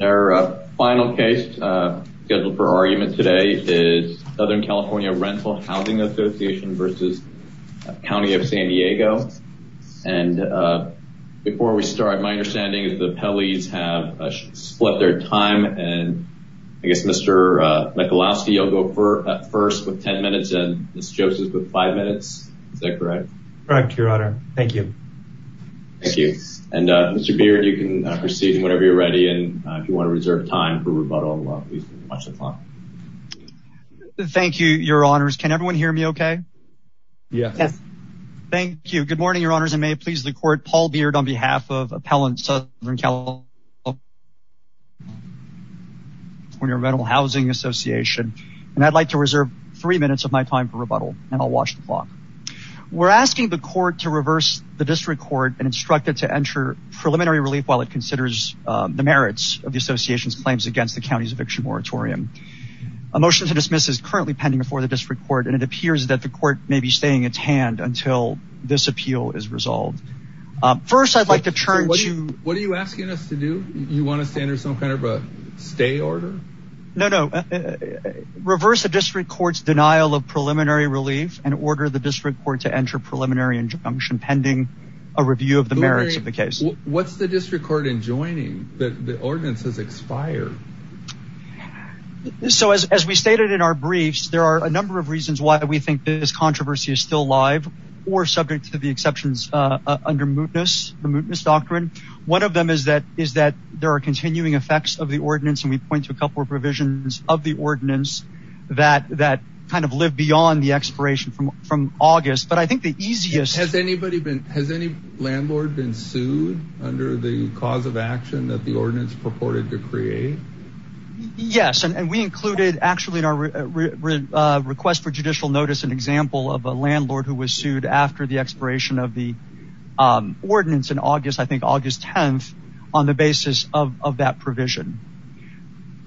Our final case scheduled for argument today is Southern California Rental Housing Association v. County of San Diego. And before we start, my understanding is the appellees have split their time and I guess Mr. Michalowski will go first with 10 minutes and Ms. Joseph with 5 minutes. Is that correct? Correct, Your Honor. Thank you. Thank you. And Mr. Beard, you can proceed whenever you're ready and if you want to reserve time for rebuttal, please watch the clock. Thank you, Your Honors. Can everyone hear me okay? Yes. Thank you. Good morning, Your Honors. And may it please the court, Paul Beard on behalf of Appellant Southern California Rental Housing Association. And I'd like to reserve three minutes of my time for rebuttal and I'll watch the clock. We're asking the court to reverse the district court and instruct it to enter preliminary relief while it considers the merits of the association's claims against the county's eviction moratorium. A motion to dismiss is currently pending before the district court and it appears that the court may be staying its hand until this appeal is resolved. First, I'd like to turn to... What are you asking us to do? You want us to enter some kind of a stay order? No, no. Reverse the district court's denial of preliminary relief and order the district court to enter preliminary injunction pending a review of the merits of the case. What's the district court enjoining that the ordinance has expired? So as we stated in our briefs, there are a number of reasons why we think this controversy is still live or subject to the exceptions under mootness, the mootness doctrine. One of them is that there are continuing effects of the ordinance and we point to a couple of revisions of the ordinance that kind of live beyond the expiration from from August, but I think the easiest... Has anybody been, has any landlord been sued under the cause of action that the ordinance purported to create? Yes, and we included actually in our request for judicial notice an example of a landlord who was sued after the expiration of the ordinance in August, I think August 10th, on the basis of that provision.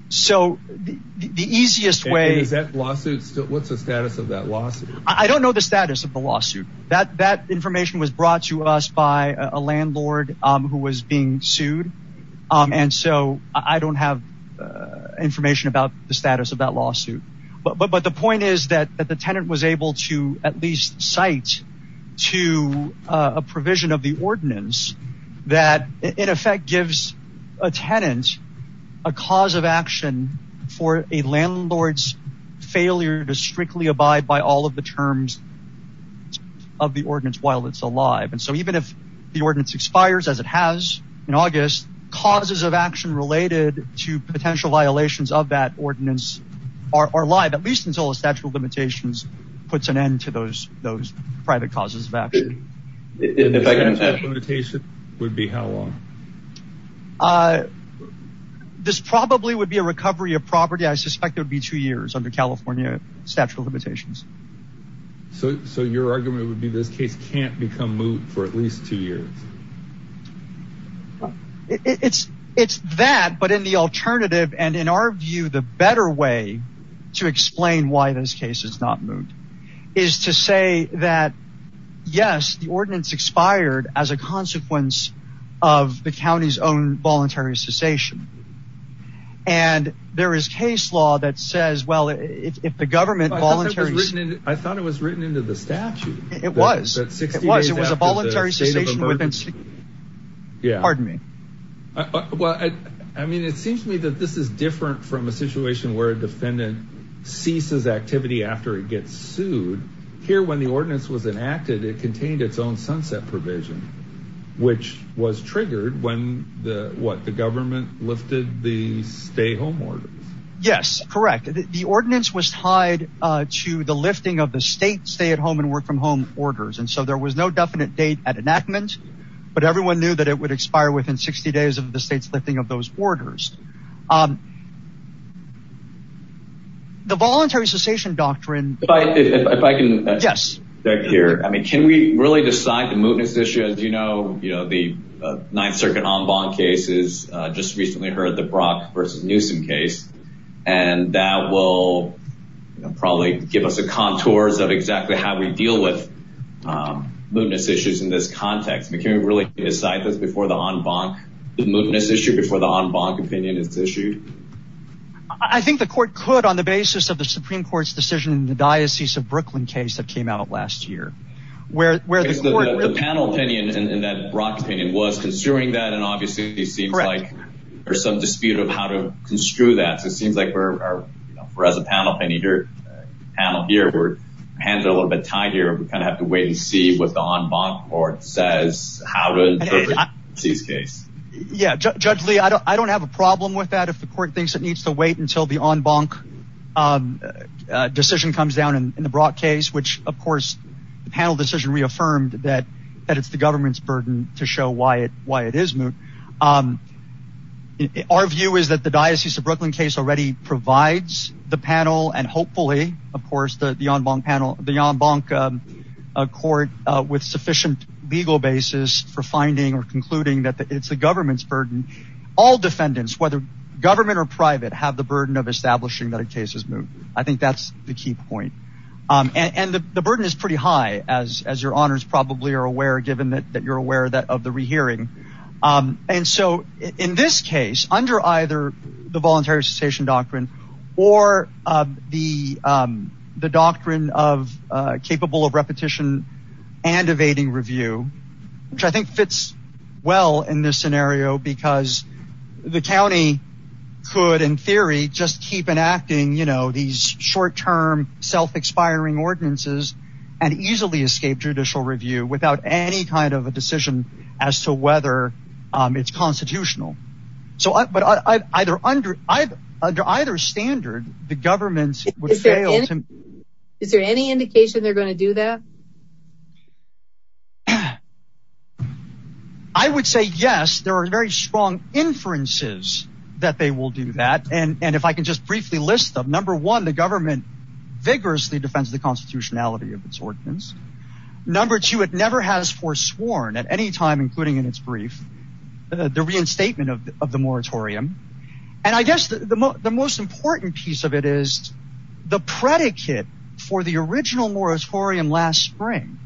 So the easiest way... Is that lawsuit still, what's the status of that lawsuit? I don't know the status of the lawsuit. That information was brought to us by a landlord who was being sued and so I don't have information about the status of that lawsuit, but the point is that the tenant was able to at least cite to a provision of the ordinance that in effect gives a tenant a cause of action for a landlord's failure to strictly abide by all of the terms of the ordinance while it's alive. And so even if the ordinance expires, as it has in August, causes of action related to potential violations of that ordinance are alive at least until a statute of limitations puts an end to those private causes of action. And if that limitation would be how long? This probably would be a recovery of property, I suspect it would be two years under California statute of limitations. So your argument would be this case can't become moot for at least two years? It's that, but in the alternative and in our view the better way to explain why this case is not moot is to say that yes the ordinance expired as a consequence of the county's own voluntary cessation. And there is case law that says well if the government voluntarily... I thought it was written into the statute. It was. It was a voluntary cessation within 60 days. Yeah. Pardon me. Well I mean it seems to me that this is different from a situation where a defendant ceases activity after it gets sued. Here when the ordinance was enacted it contained its own sunset provision, which was Yes, correct. The ordinance was tied to the lifting of the state stay at home and work from home orders. And so there was no definite date at enactment, but everyone knew that it would expire within 60 days of the state's lifting of those orders. The voluntary cessation doctrine... If I can interject here, I mean can we really decide the mootness issue? As you know, you know the Ninth Circuit en banc case is just recently heard the Brock versus Newsom case and that will probably give us a contours of exactly how we deal with mootness issues in this context. We can't really decide this before the en banc, the mootness issue before the en banc opinion is issued? I think the court could on the basis of the Supreme Court's decision in the Diocese of Brooklyn case that came out last year. The panel opinion in that Brock opinion was considering that and obviously it seems like there's some dispute of how to construe that. So it seems like we're as a panel here, we're handed a little bit tighter. We kind of have to wait and see what the en banc court says how to interpret this case. Yeah, Judge Lee, I don't have a problem with that if the court thinks it needs to wait until the en banc decision comes down in the Brock case, which of course the panel decision reaffirmed that that it's the government's burden to show why it is moot. Our view is that the Diocese of Brooklyn case already provides the panel and hopefully of course the en banc panel, the en banc court with sufficient legal basis for finding or concluding that it's the government's burden. All defendants, whether government or private, have the burden of establishing that a case is moot. I think that's the key point. And the burden is pretty high as your honors probably are aware given that you're aware of the rehearing. And so in this case, under either the voluntary cessation doctrine or the doctrine of capable of repetition and evading review, which I think fits well in this scenario because the county could in theory just keep enacting these short-term self-expiring ordinances and easily escape judicial review without any kind of a decision as to whether it's constitutional. But under either standard, the government would fail. Is there any indication they're going to do that? I would say yes, there are very strong inferences that they will do that. And if I can just briefly list them, number one, the government vigorously defends the constitutionality of its ordinance. Number two, it never has foresworn at any time, including in its brief, the reinstatement of the moratorium. And I guess the most important piece of it is the predicate for the original moratorium last spring,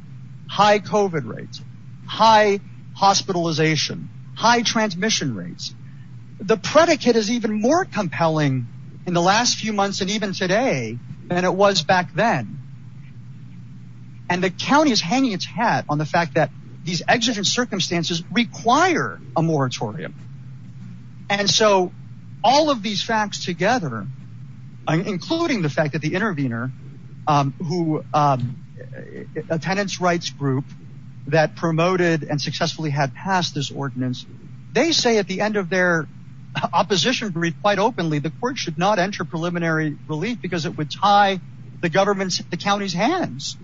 high COVID rates, high hospitalization, high transmission rates. The predicate is even more compelling in the last few then. And the county is hanging its hat on the fact that these exigent circumstances require a moratorium. And so all of these facts together, including the fact that the intervener, a tenants' rights group that promoted and successfully had passed this ordinance, they say at the end of their opposition brief quite openly the court should not enter preliminary relief because it would tie the county's hands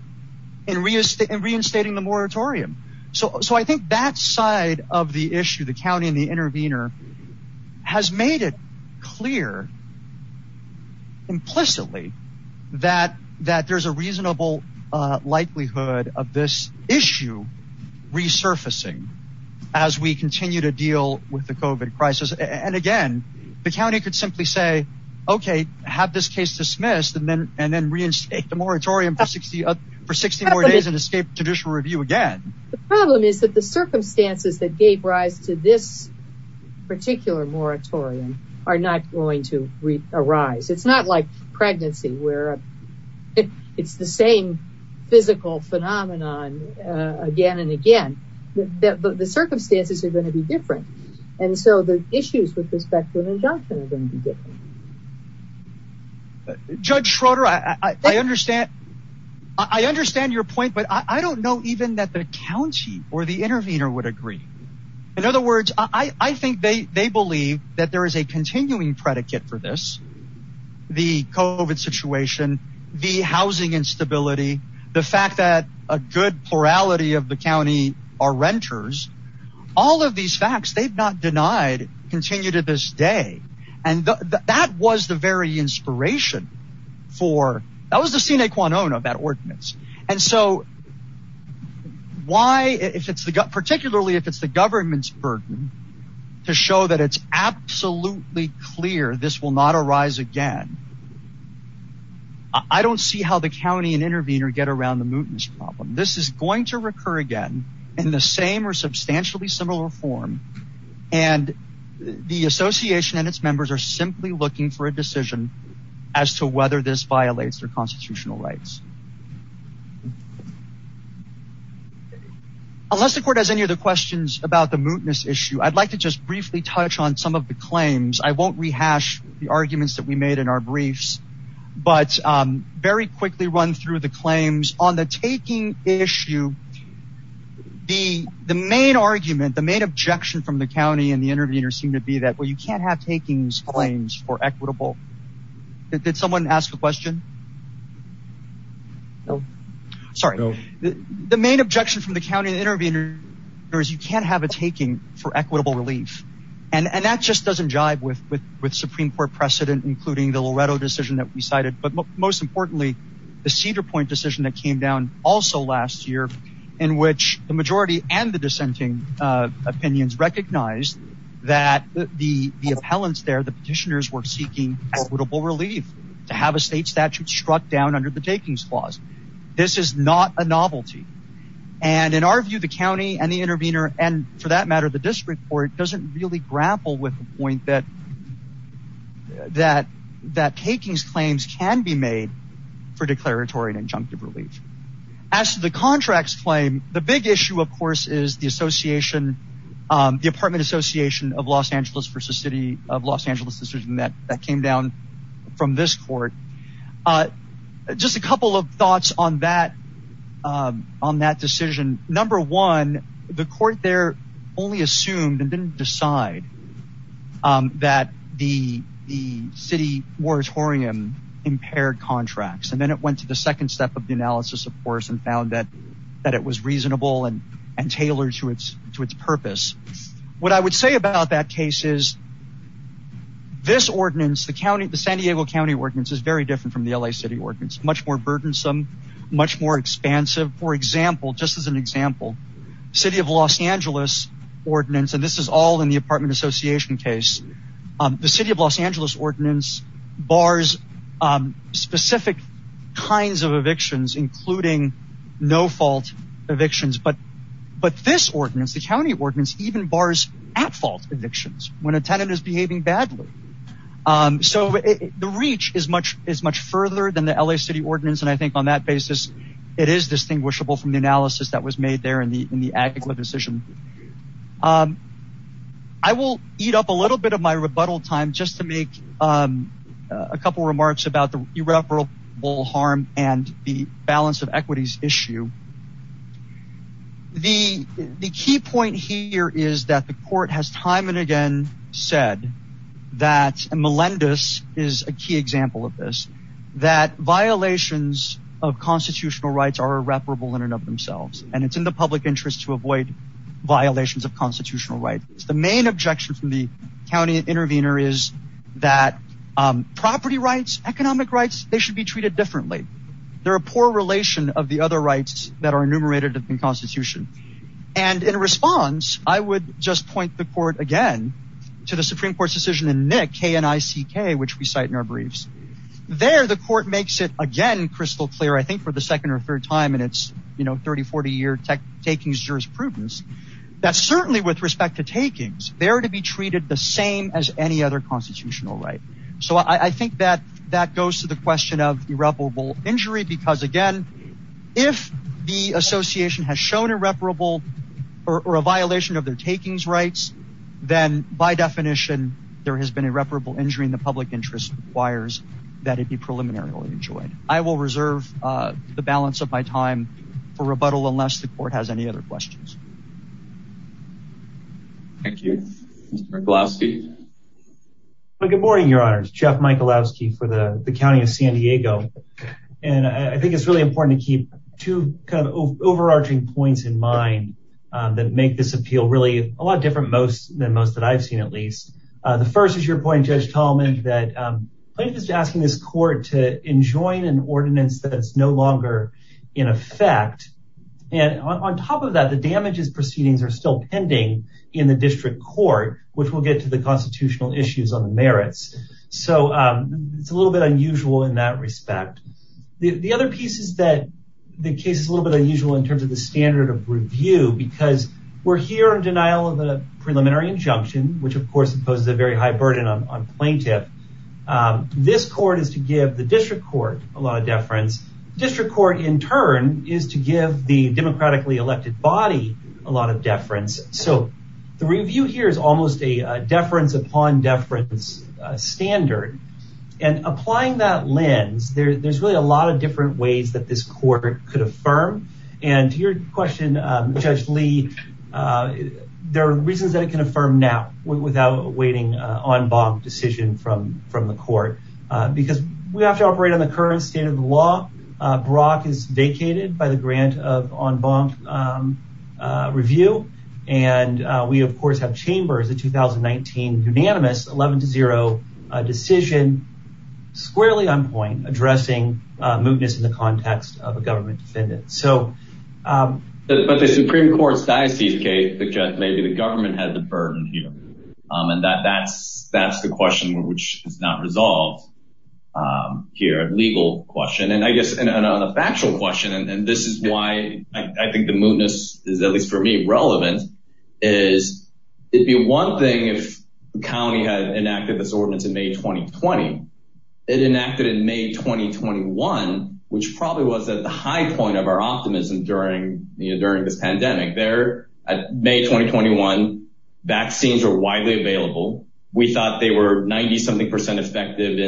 in reinstating the moratorium. So I think that side of the issue, the county and the intervener, has made it clear implicitly that there's a reasonable likelihood of this issue resurfacing as we continue to deal with the COVID crisis. And again, the county could simply say, okay, have this case dismissed and then reinstate the moratorium for 60 more days and escape judicial review again. The problem is that the circumstances that gave rise to this particular moratorium are not going to arise. It's not like pregnancy, where it's the same physical phenomenon again and again. The circumstances are going to be different. And so the issues with respect to an injunction are going to be different. Judge Schroeder, I understand your point, but I don't know even that the county or the intervener would agree. In other words, I think they believe that there is a continuing predicate for this, the COVID situation, the housing instability, the fact that a good plurality of the county are these facts they've not denied continue to this day. And that was the very inspiration for that was the sine qua non of that ordinance. And so why if it's the gut, particularly if it's the government's burden, to show that it's absolutely clear this will not arise again. I don't see how the county and intervener get around the mootness problem. This is going to be a similar form. And the association and its members are simply looking for a decision as to whether this violates their constitutional rights. Unless the court has any other questions about the mootness issue, I'd like to just briefly touch on some of the claims. I won't rehash the arguments that we made in our briefs, but very quickly run through the claims on the taking issue. The main argument, the main objection from the county and the intervener seem to be that well, you can't have takings claims for equitable. Did someone ask a question? Sorry, the main objection from the county and intervener is you can't have a taking for equitable relief. And that just doesn't jive with Supreme Court precedent, including the Loretto decision that we cited. But most importantly, the Cedar Point decision that came down also last year, in which the majority and the dissenting opinions recognized that the appellants there, the petitioners were seeking equitable relief to have a state statute struck down under the takings clause. This is not a novelty. And in our view, the county and the intervener and for that matter, the district court doesn't really grapple with the point that takings claims can be made for declaratory and injunctive relief. As to the contracts claim, the big issue, of course, is the apartment association of Los Angeles versus city of Los Angeles decision that came down from this court. Just a couple of thoughts on that decision. Number one, the court there only assumed and didn't decide that the city moratorium impaired contracts. And then it went to the second step of the analysis, of course, and found that it was reasonable and tailored to its purpose. What I would say about that case is this ordinance, the San Diego County Ordinance, is very different from the L.A. City Ordinance, much more burdensome, much more expansive. For example, in the apartment association case, the city of Los Angeles ordinance bars specific kinds of evictions, including no-fault evictions. But this ordinance, the county ordinance, even bars at-fault evictions when a tenant is behaving badly. So the reach is much further than the L.A. City Ordinance and I think on that basis it is distinguishable from the analysis that was made there in the Agla decision. I will eat up a little bit of my rebuttal time just to make a couple remarks about the irreparable harm and the balance of equities issue. The key point here is that the court has time and again said that, and Melendez is a key example of this, that violations of and it's in the public interest to avoid violations of constitutional rights. The main objection from the county intervener is that property rights, economic rights, they should be treated differently. They're a poor relation of the other rights that are enumerated in the Constitution. And in response, I would just point the court again to the Supreme Court's decision in Nick, K-N-I-C-K, which we cite in our briefs. There the court makes it again crystal clear, I your tech takings jurisprudence, that certainly with respect to takings, they are to be treated the same as any other constitutional right. So I think that that goes to the question of irreparable injury because again, if the Association has shown irreparable or a violation of their takings rights, then by definition there has been irreparable injury in the public interest requires that it be preliminarily enjoyed. I will reserve the balance of my time for rebuttal unless the court has any other questions. Thank you. Mr. Michalowski. Good morning, Your Honors. Jeff Michalowski for the County of San Diego. And I think it's really important to keep two kind of overarching points in mind that make this appeal really a lot different than most that I've seen, at least. The first is your point, Judge Tallman, that plaintiff is asking this court to enjoin an ordinance that's no longer in effect. And on top of that, the damages proceedings are still pending in the district court, which will get to the constitutional issues on the merits. So it's a little bit unusual in that respect. The other piece is that the case is a little bit unusual in terms of the standard of review because we're here in denial of a preliminary injunction, which of course imposes a very high burden on plaintiff. This court is to give the district court, in turn, is to give the democratically elected body a lot of deference. So the review here is almost a deference upon deference standard. And applying that lens, there's really a lot of different ways that this court could affirm. And to your question, Judge Lee, there are reasons that it can affirm now without awaiting an en banc decision from the court. Because we have to the law. Brock is vacated by the grant of en banc review. And we of course have chambers, the 2019 unanimous 11 to 0 decision, squarely on point, addressing mootness in the context of a government defendant. But the Supreme Court's diocese case suggests maybe the government has a burden here. And that's the question which is not resolved here, a legal question. And I guess on a factual question, and this is why I think the mootness is, at least for me, relevant, is it'd be one thing if the county had enacted this ordinance in May 2020. It enacted in May 2021, which probably was at the high point of our optimism during this pandemic. At May 2021, vaccines are widely available. We thought they were 90-something percent effective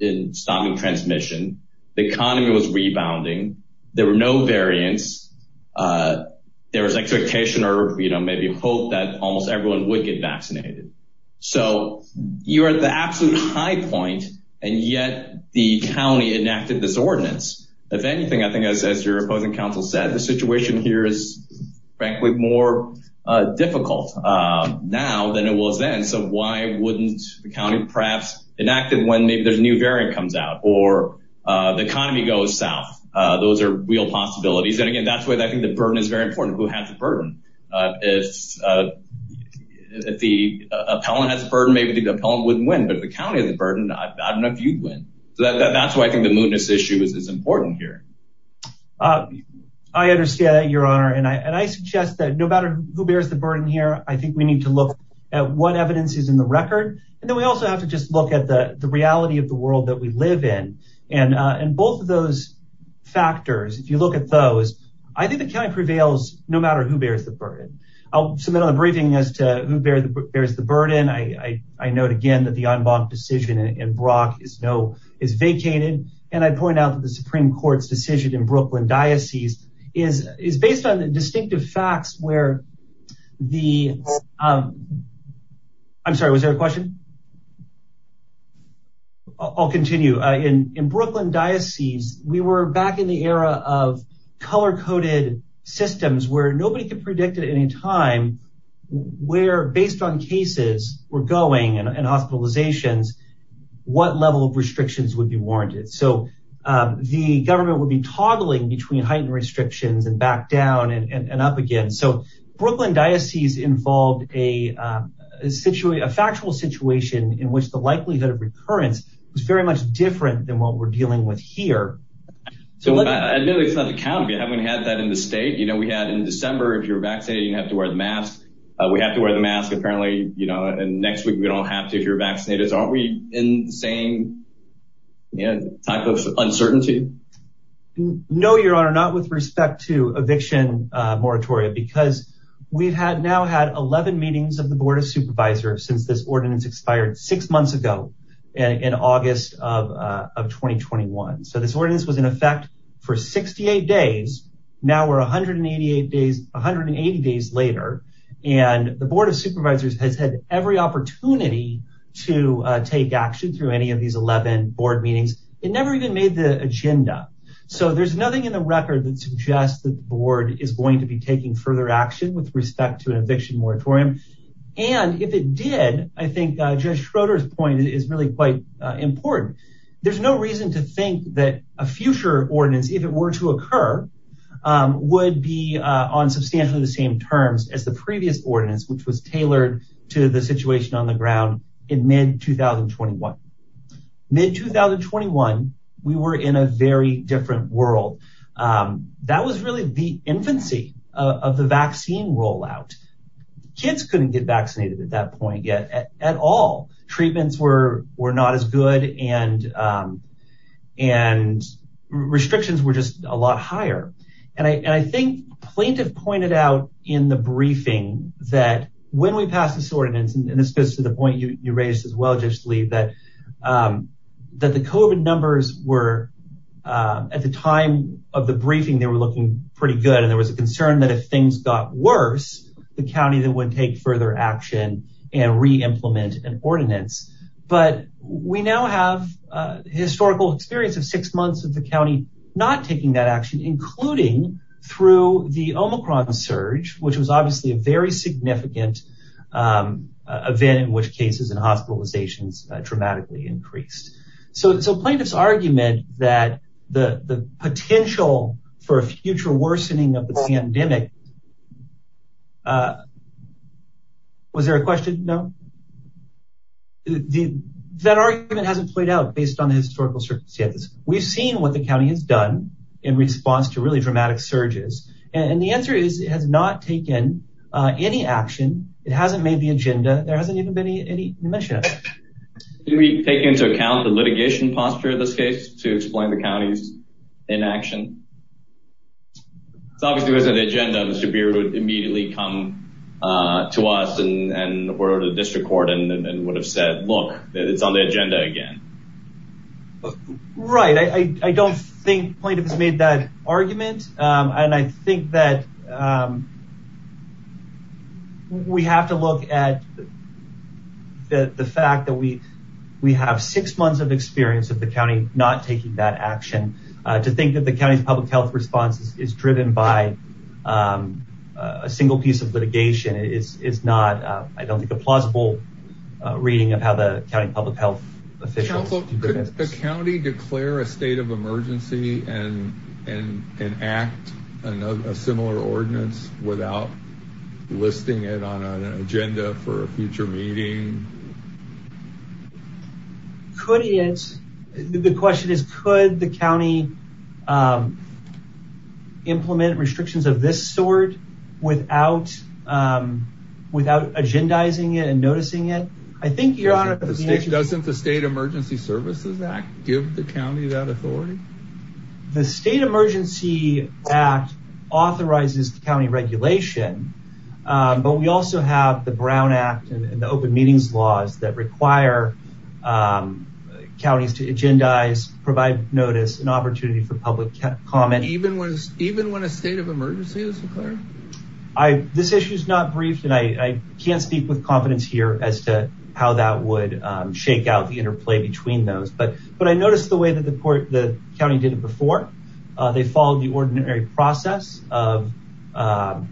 in stopping transmission. The economy was rebounding. There were no variants. There was expectation or maybe hope that almost everyone would get vaccinated. So you're at the absolute high point, and yet the county enacted this ordinance. If anything, I think, as your opposing counsel said, the situation here is, frankly, more difficult now than it was then. So why wouldn't the county perhaps enact it when maybe there's a new variant comes out, or the economy goes south? Those are real possibilities. And again, that's why I think the burden is very important. Who has the burden? If the appellant has a burden, maybe the appellant wouldn't win. But if the county has a burden, I don't know if you'd win. So that's why I think the mootness issue is important here. I understand that, your honor. And I suggest that no matter who bears the burden here, I think we need to look at what evidence is in the record. And then we also have to just look at the reality of the world that we live in. And both of those factors, if you look at those, I think the county prevails no matter who bears the burden. I'll submit on the briefing as to who bears the burden. I note again that the Enbanc decision in Brock is vacated. And I point out that the Supreme Court's decision in Brooklyn Diocese is based on the distinctive facts where the... I'm sorry, was there a question? I'll continue. In Brooklyn Diocese, we were back in the era of color-coded systems where nobody could predict at any time where, based on cases were predicted. So the government would be toggling between heightened restrictions and back down and up again. So Brooklyn Diocese involved a factual situation in which the likelihood of recurrence was very much different than what we're dealing with here. So... Admittedly, it's not the county. We haven't had that in the state. We had in December, if you're vaccinated, you didn't have to wear the mask. We have to wear the mask, apparently. And next week, we don't have to if you're vaccinated. So aren't we in the same... Type of uncertainty? No, Your Honor, not with respect to eviction moratoria because we've now had 11 meetings of the Board of Supervisors since this ordinance expired six months ago in August of 2021. So this ordinance was in effect for 68 days. Now we're 180 days later, and the Board of Supervisors has had every opportunity to take action through any of these 11 board meetings. It never even made the agenda. So there's nothing in the record that suggests that the board is going to be taking further action with respect to an eviction moratorium. And if it did, I think Judge Schroeder's point is really quite important. There's no reason to think that a future ordinance, if it were to occur, would be on substantially the same terms as the previous ordinance, which was tailored to the situation on the mid-2021, we were in a very different world. That was really the infancy of the vaccine rollout. Kids couldn't get vaccinated at that point yet at all. Treatments were not as good, and restrictions were just a lot higher. And I think Plaintiff pointed out in the briefing that when we pass this ordinance, and this goes to the point you raised as well, Judge Lee, that the COVID numbers were, at the time of the briefing, they were looking pretty good. And there was a concern that if things got worse, the county then would take further action and re-implement an ordinance. But we now have a historical experience of six months of the county not taking that action, including through the Omicron surge, which was obviously a very significant event in which cases and hospitalizations dramatically increased. So Plaintiff's argument that the potential for a future worsening of the pandemic, was there a question? No? That argument hasn't played out based on the historical circumstances. We've seen what the county has done in response to really dramatic surges. And the answer is it has not taken any action. It hasn't made the agenda. There hasn't even been any mention of it. Did we take into account the litigation posture in this case to explain the county's inaction? It's obvious it wasn't the agenda. Mr. Beard would immediately come to us and were to the district court and would have said, look, it's on the agenda again. Right. I don't think Plaintiff's made that argument. And I think that we have to look at the fact that we have six months of experience of the county not taking that action. To think that the county's public health response is driven by a single piece of litigation is not, I don't think, a plausible reading of how the county public health officials... Counsel, could the county declare a state of emergency and act a similar ordinance without listing it on an agenda for a future meeting? The question is, could the county implement restrictions of this sort without agendizing it and noticing it? Doesn't the State Emergency Services Act give the county that authority? The State Emergency Act authorizes the county regulation, but we also have the Brown Act and the open meetings laws that require counties to agendize, provide notice, and opportunity for public comment. Even when a state of emergency is declared? This issue's not briefed, and I can't speak with confidence here as to how that would shake out the interplay between those. But I noticed the way that the county did it before. They followed the ordinary process of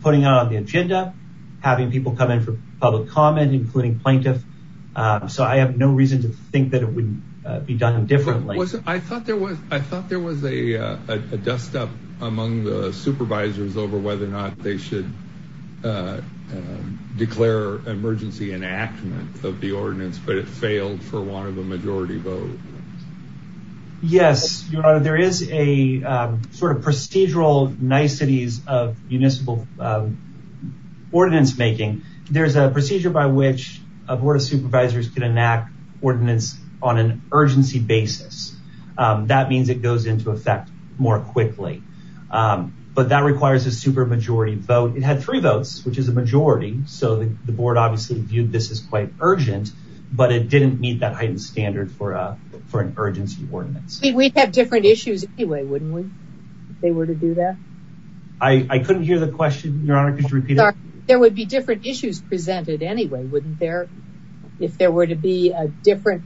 putting it on the agenda, having people come in for public comment, including Plaintiff. So I have no reason to think that it would be done differently. I thought there was a dust-up among the supervisors over whether or not they should declare emergency enactment of the ordinance, but it failed for one of the majority vote. Yes, your honor. There is a sort of procedural niceties of municipal ordinance making. There's a procedure by which a board of supervisors can enact ordinance on an urgency basis. That means it goes into effect more than one vote. It had three votes, which is a majority, so the board obviously viewed this as quite urgent, but it didn't meet that heightened standard for an urgency ordinance. We'd have different issues anyway, wouldn't we, if they were to do that? I couldn't hear the question, your honor. Could you repeat it? There would be different issues presented anyway, wouldn't there, if there were to be a different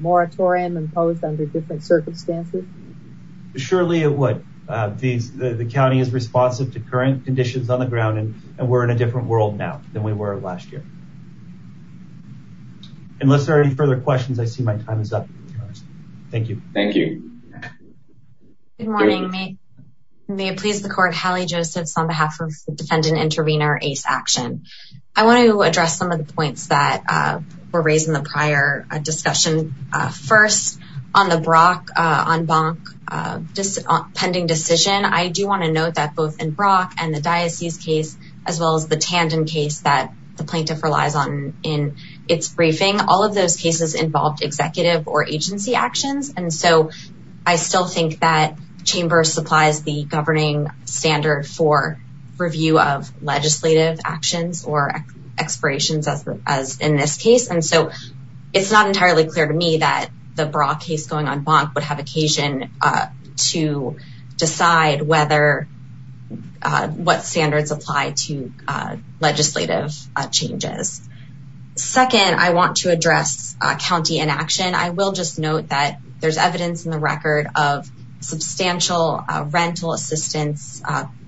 moratorium imposed under different circumstances? Surely it would. The county is responsive to current conditions on the ground, and we're in a different world now than we were last year. Unless there are any further questions, I see my time is up. Thank you. Thank you. Good morning. May it please the court, Hallie Josephs on behalf of defendant intervener Ace Action. I want to address some of the points that were raised in prior discussion. First, on the Brock-Bonk pending decision, I do want to note that both in Brock and the Diocese case, as well as the Tandem case that the plaintiff relies on in its briefing, all of those cases involved executive or agency actions. And so I still think that chamber supplies the governing standard for review of legislative actions or expirations as in this case. And so it's not entirely clear to me that the Brock case going on Bonk would have occasion to decide what standards apply to legislative changes. Second, I want to address county inaction. I will just note that there's evidence in the record of substantial rental assistance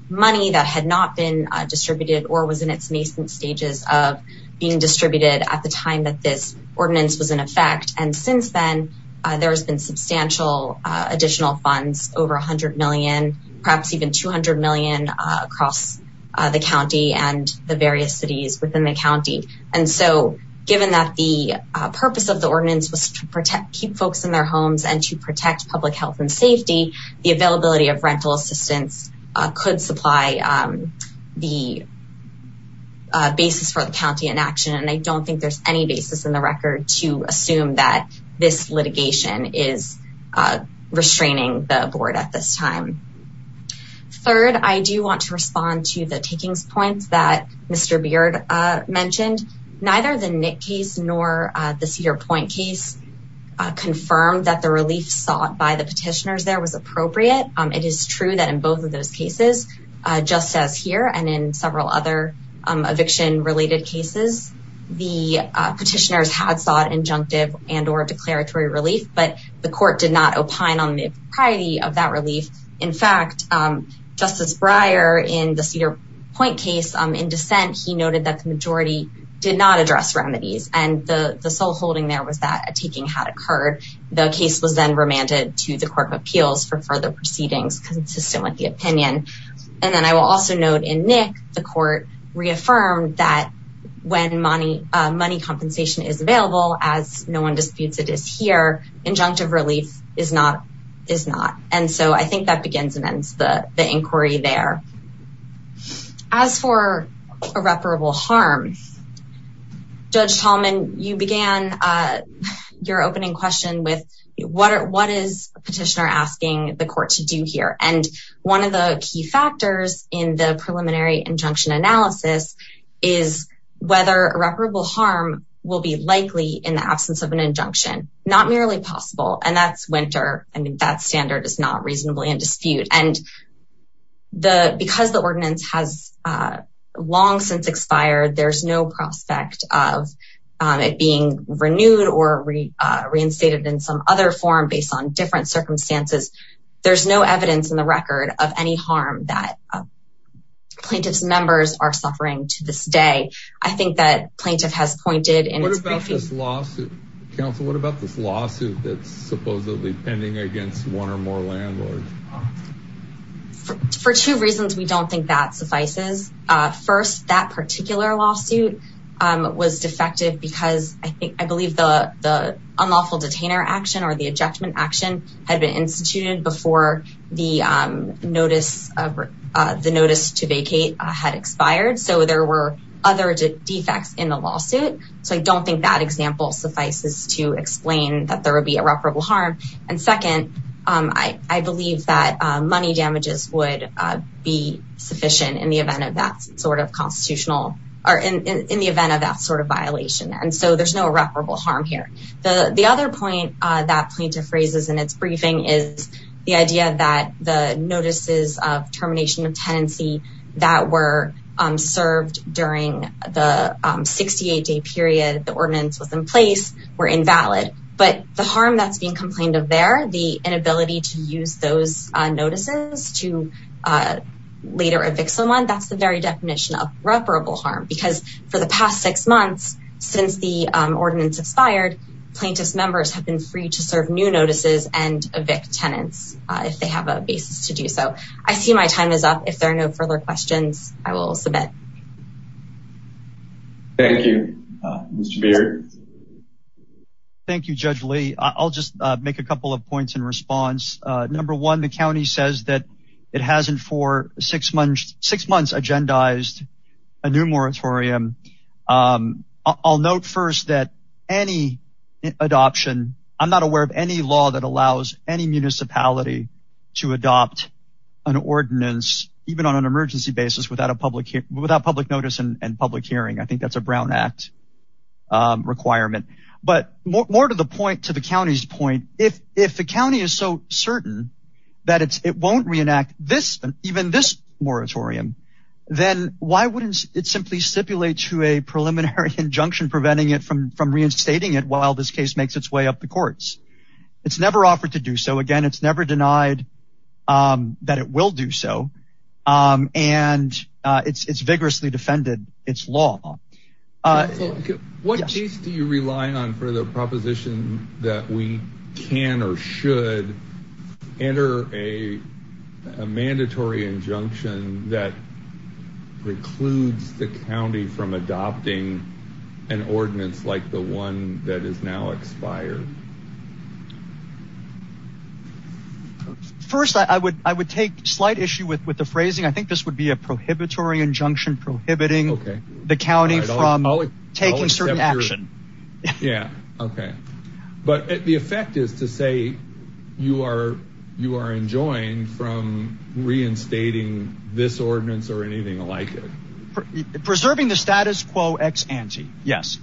money that had not been distributed or was in its nascent stages of being distributed at the time that this ordinance was in effect. And since then, there has been substantial additional funds, over $100 million, perhaps even $200 million across the county and the various cities within the county. And so given that the purpose of the ordinance was to keep folks in their homes and to protect public health and safety, the availability of rental assistance could supply the basis for record to assume that this litigation is restraining the board at this time. Third, I do want to respond to the takings points that Mr. Beard mentioned. Neither the Nick case nor the Cedar Point case confirmed that the relief sought by the petitioners there was appropriate. It is true that in both of those cases, just as here and in several other eviction related cases, the petitioners had sought injunctive and or declaratory relief, but the court did not opine on the propriety of that relief. In fact, Justice Breyer in the Cedar Point case in dissent, he noted that the majority did not address remedies. And the sole holding there was that a taking had occurred. The case was then remanded to the Court of Appeals for further proceedings consistent with the opinion. And then I will also note in Nick, the court reaffirmed that when money compensation is available, as no one disputes it is here, injunctive relief is not. And so I think that begins and ends the inquiry there. As for irreparable harm, Judge Tallman, you began your opening question with what is a petitioner asking the court to do here? And one of the key factors in the preliminary injunction analysis is whether irreparable harm will be likely in the absence of an injunction, not merely possible. And that's winter. I mean, that standard is not reasonably in dispute. And because the ordinance has long since expired, there's no prospect of it being renewed or reinstated in some other form based on different circumstances. There's no evidence in record of any harm that plaintiff's members are suffering to this day. I think that plaintiff has pointed in its briefing. What about this lawsuit? Counsel, what about this lawsuit that's supposedly pending against one or more landlords? For two reasons, we don't think that suffices. First, that particular lawsuit was defective because I believe the unlawful detainer action or the injunction action had been instituted before the notice to vacate had expired. So there were other defects in the lawsuit. So I don't think that example suffices to explain that there would be irreparable harm. And second, I believe that money damages would be sufficient in the event of that sort of constitutional or in the event of that sort of violation. And so there's no doubt that plaintiff raises in its briefing is the idea that the notices of termination of tenancy that were served during the 68-day period the ordinance was in place were invalid. But the harm that's being complained of there, the inability to use those notices to later evict someone, that's the very definition of irreparable harm. Because for the past six months since the ordinance expired, plaintiff's members have been free to serve new notices and evict tenants if they have a basis to do so. I see my time is up. If there are no further questions, I will submit. Thank you. Mr. Beard? Thank you, Judge Lee. I'll just make a couple of points in response. Number one, the county says that it hasn't for six months agendized a new moratorium. I'll note first that any adoption, I'm not aware of any law that allows any municipality to adopt an ordinance even on an emergency basis without public notice and public hearing. I think that's a Brown Act requirement. But more to the point, to the county's point, if the county is so certain that it won't reenact this, even this moratorium, then why wouldn't it simply stipulate to a from reinstating it while this case makes its way up the courts? It's never offered to do so. Again, it's never denied that it will do so. And it's vigorously defended its law. What case do you rely on for the proposition that we can or should enter a mandatory injunction that precludes the county from adopting an ordinance like the one that is now expired? First, I would take slight issue with the phrasing. I think this would be a prohibitory injunction prohibiting the county from taking certain action. Yeah, okay. But the effect is to say you are enjoined from reinstating this status quo ex ante. Yes.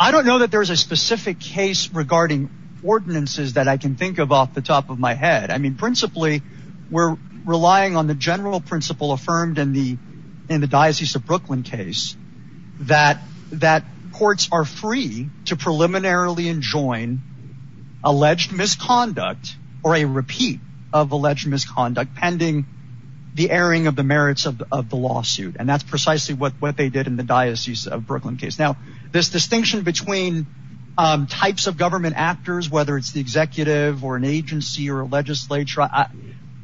I don't know that there's a specific case regarding ordinances that I can think of off the top of my head. I mean, principally, we're relying on the general principle affirmed in the in the Diocese of Brooklyn case that that courts are free to preliminarily enjoin alleged misconduct or a repeat of alleged misconduct pending the airing of the Diocese of Brooklyn case. Now, this distinction between types of government actors, whether it's the executive or an agency or a legislature,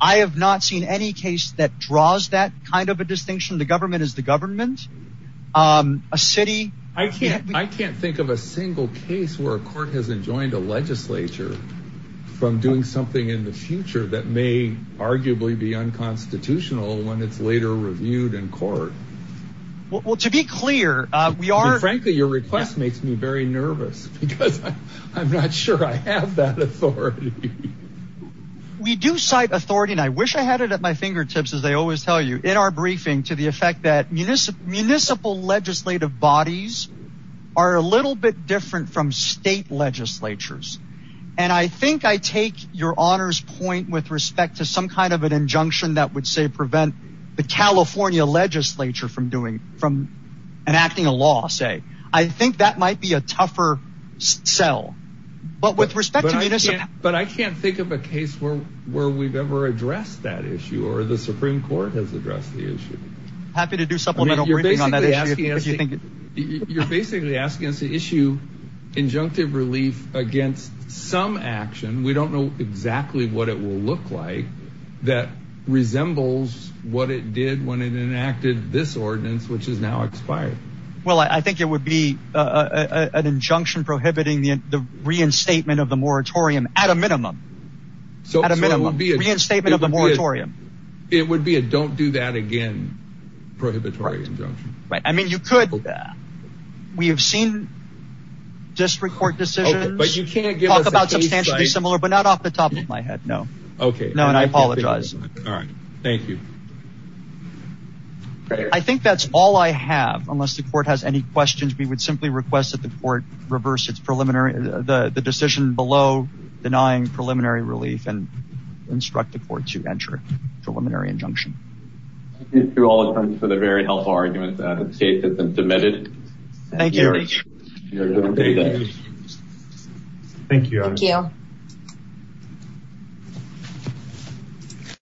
I have not seen any case that draws that kind of a distinction. The government is the government. A city I can't I can't think of a single case where a court has enjoined a legislature from doing something in the future that may arguably be unconstitutional when it's later reviewed in court. Well, to be clear, we are frankly, your request makes me very nervous because I'm not sure I have that authority. We do cite authority, and I wish I had it at my fingertips, as they always tell you in our briefing to the effect that municipal legislative bodies are a little bit different from state legislatures. And I think I take your honor's point with respect to some kind of an injunction that would say prevent the California legislature from doing from enacting a law, say, I think that might be a tougher sell. But with respect, but I can't think of a case where where we've ever addressed that issue or the Supreme Court has addressed the issue. Happy to do supplemental. You're basically asking us to issue injunctive relief against some action. We don't know exactly what it will look like that resembles what it did when it enacted this ordinance, which is now expired. Well, I think it would be an injunction prohibiting the reinstatement of the moratorium at a minimum. So it would be a reinstatement of the moratorium. It would be a don't do that again. Prohibit right. I mean, you could. We have seen district court decisions, but you can't talk about something similar, but not off the top of my head. No. OK. No. And I apologize. All right. Thank you. I think that's all I have. Unless the court has any questions, we would simply request that the court reverse its preliminary the decision below denying preliminary relief and instruct the court to enter preliminary injunction. Thank you all for the very helpful argument that the case has been submitted. Thank you. Thank you.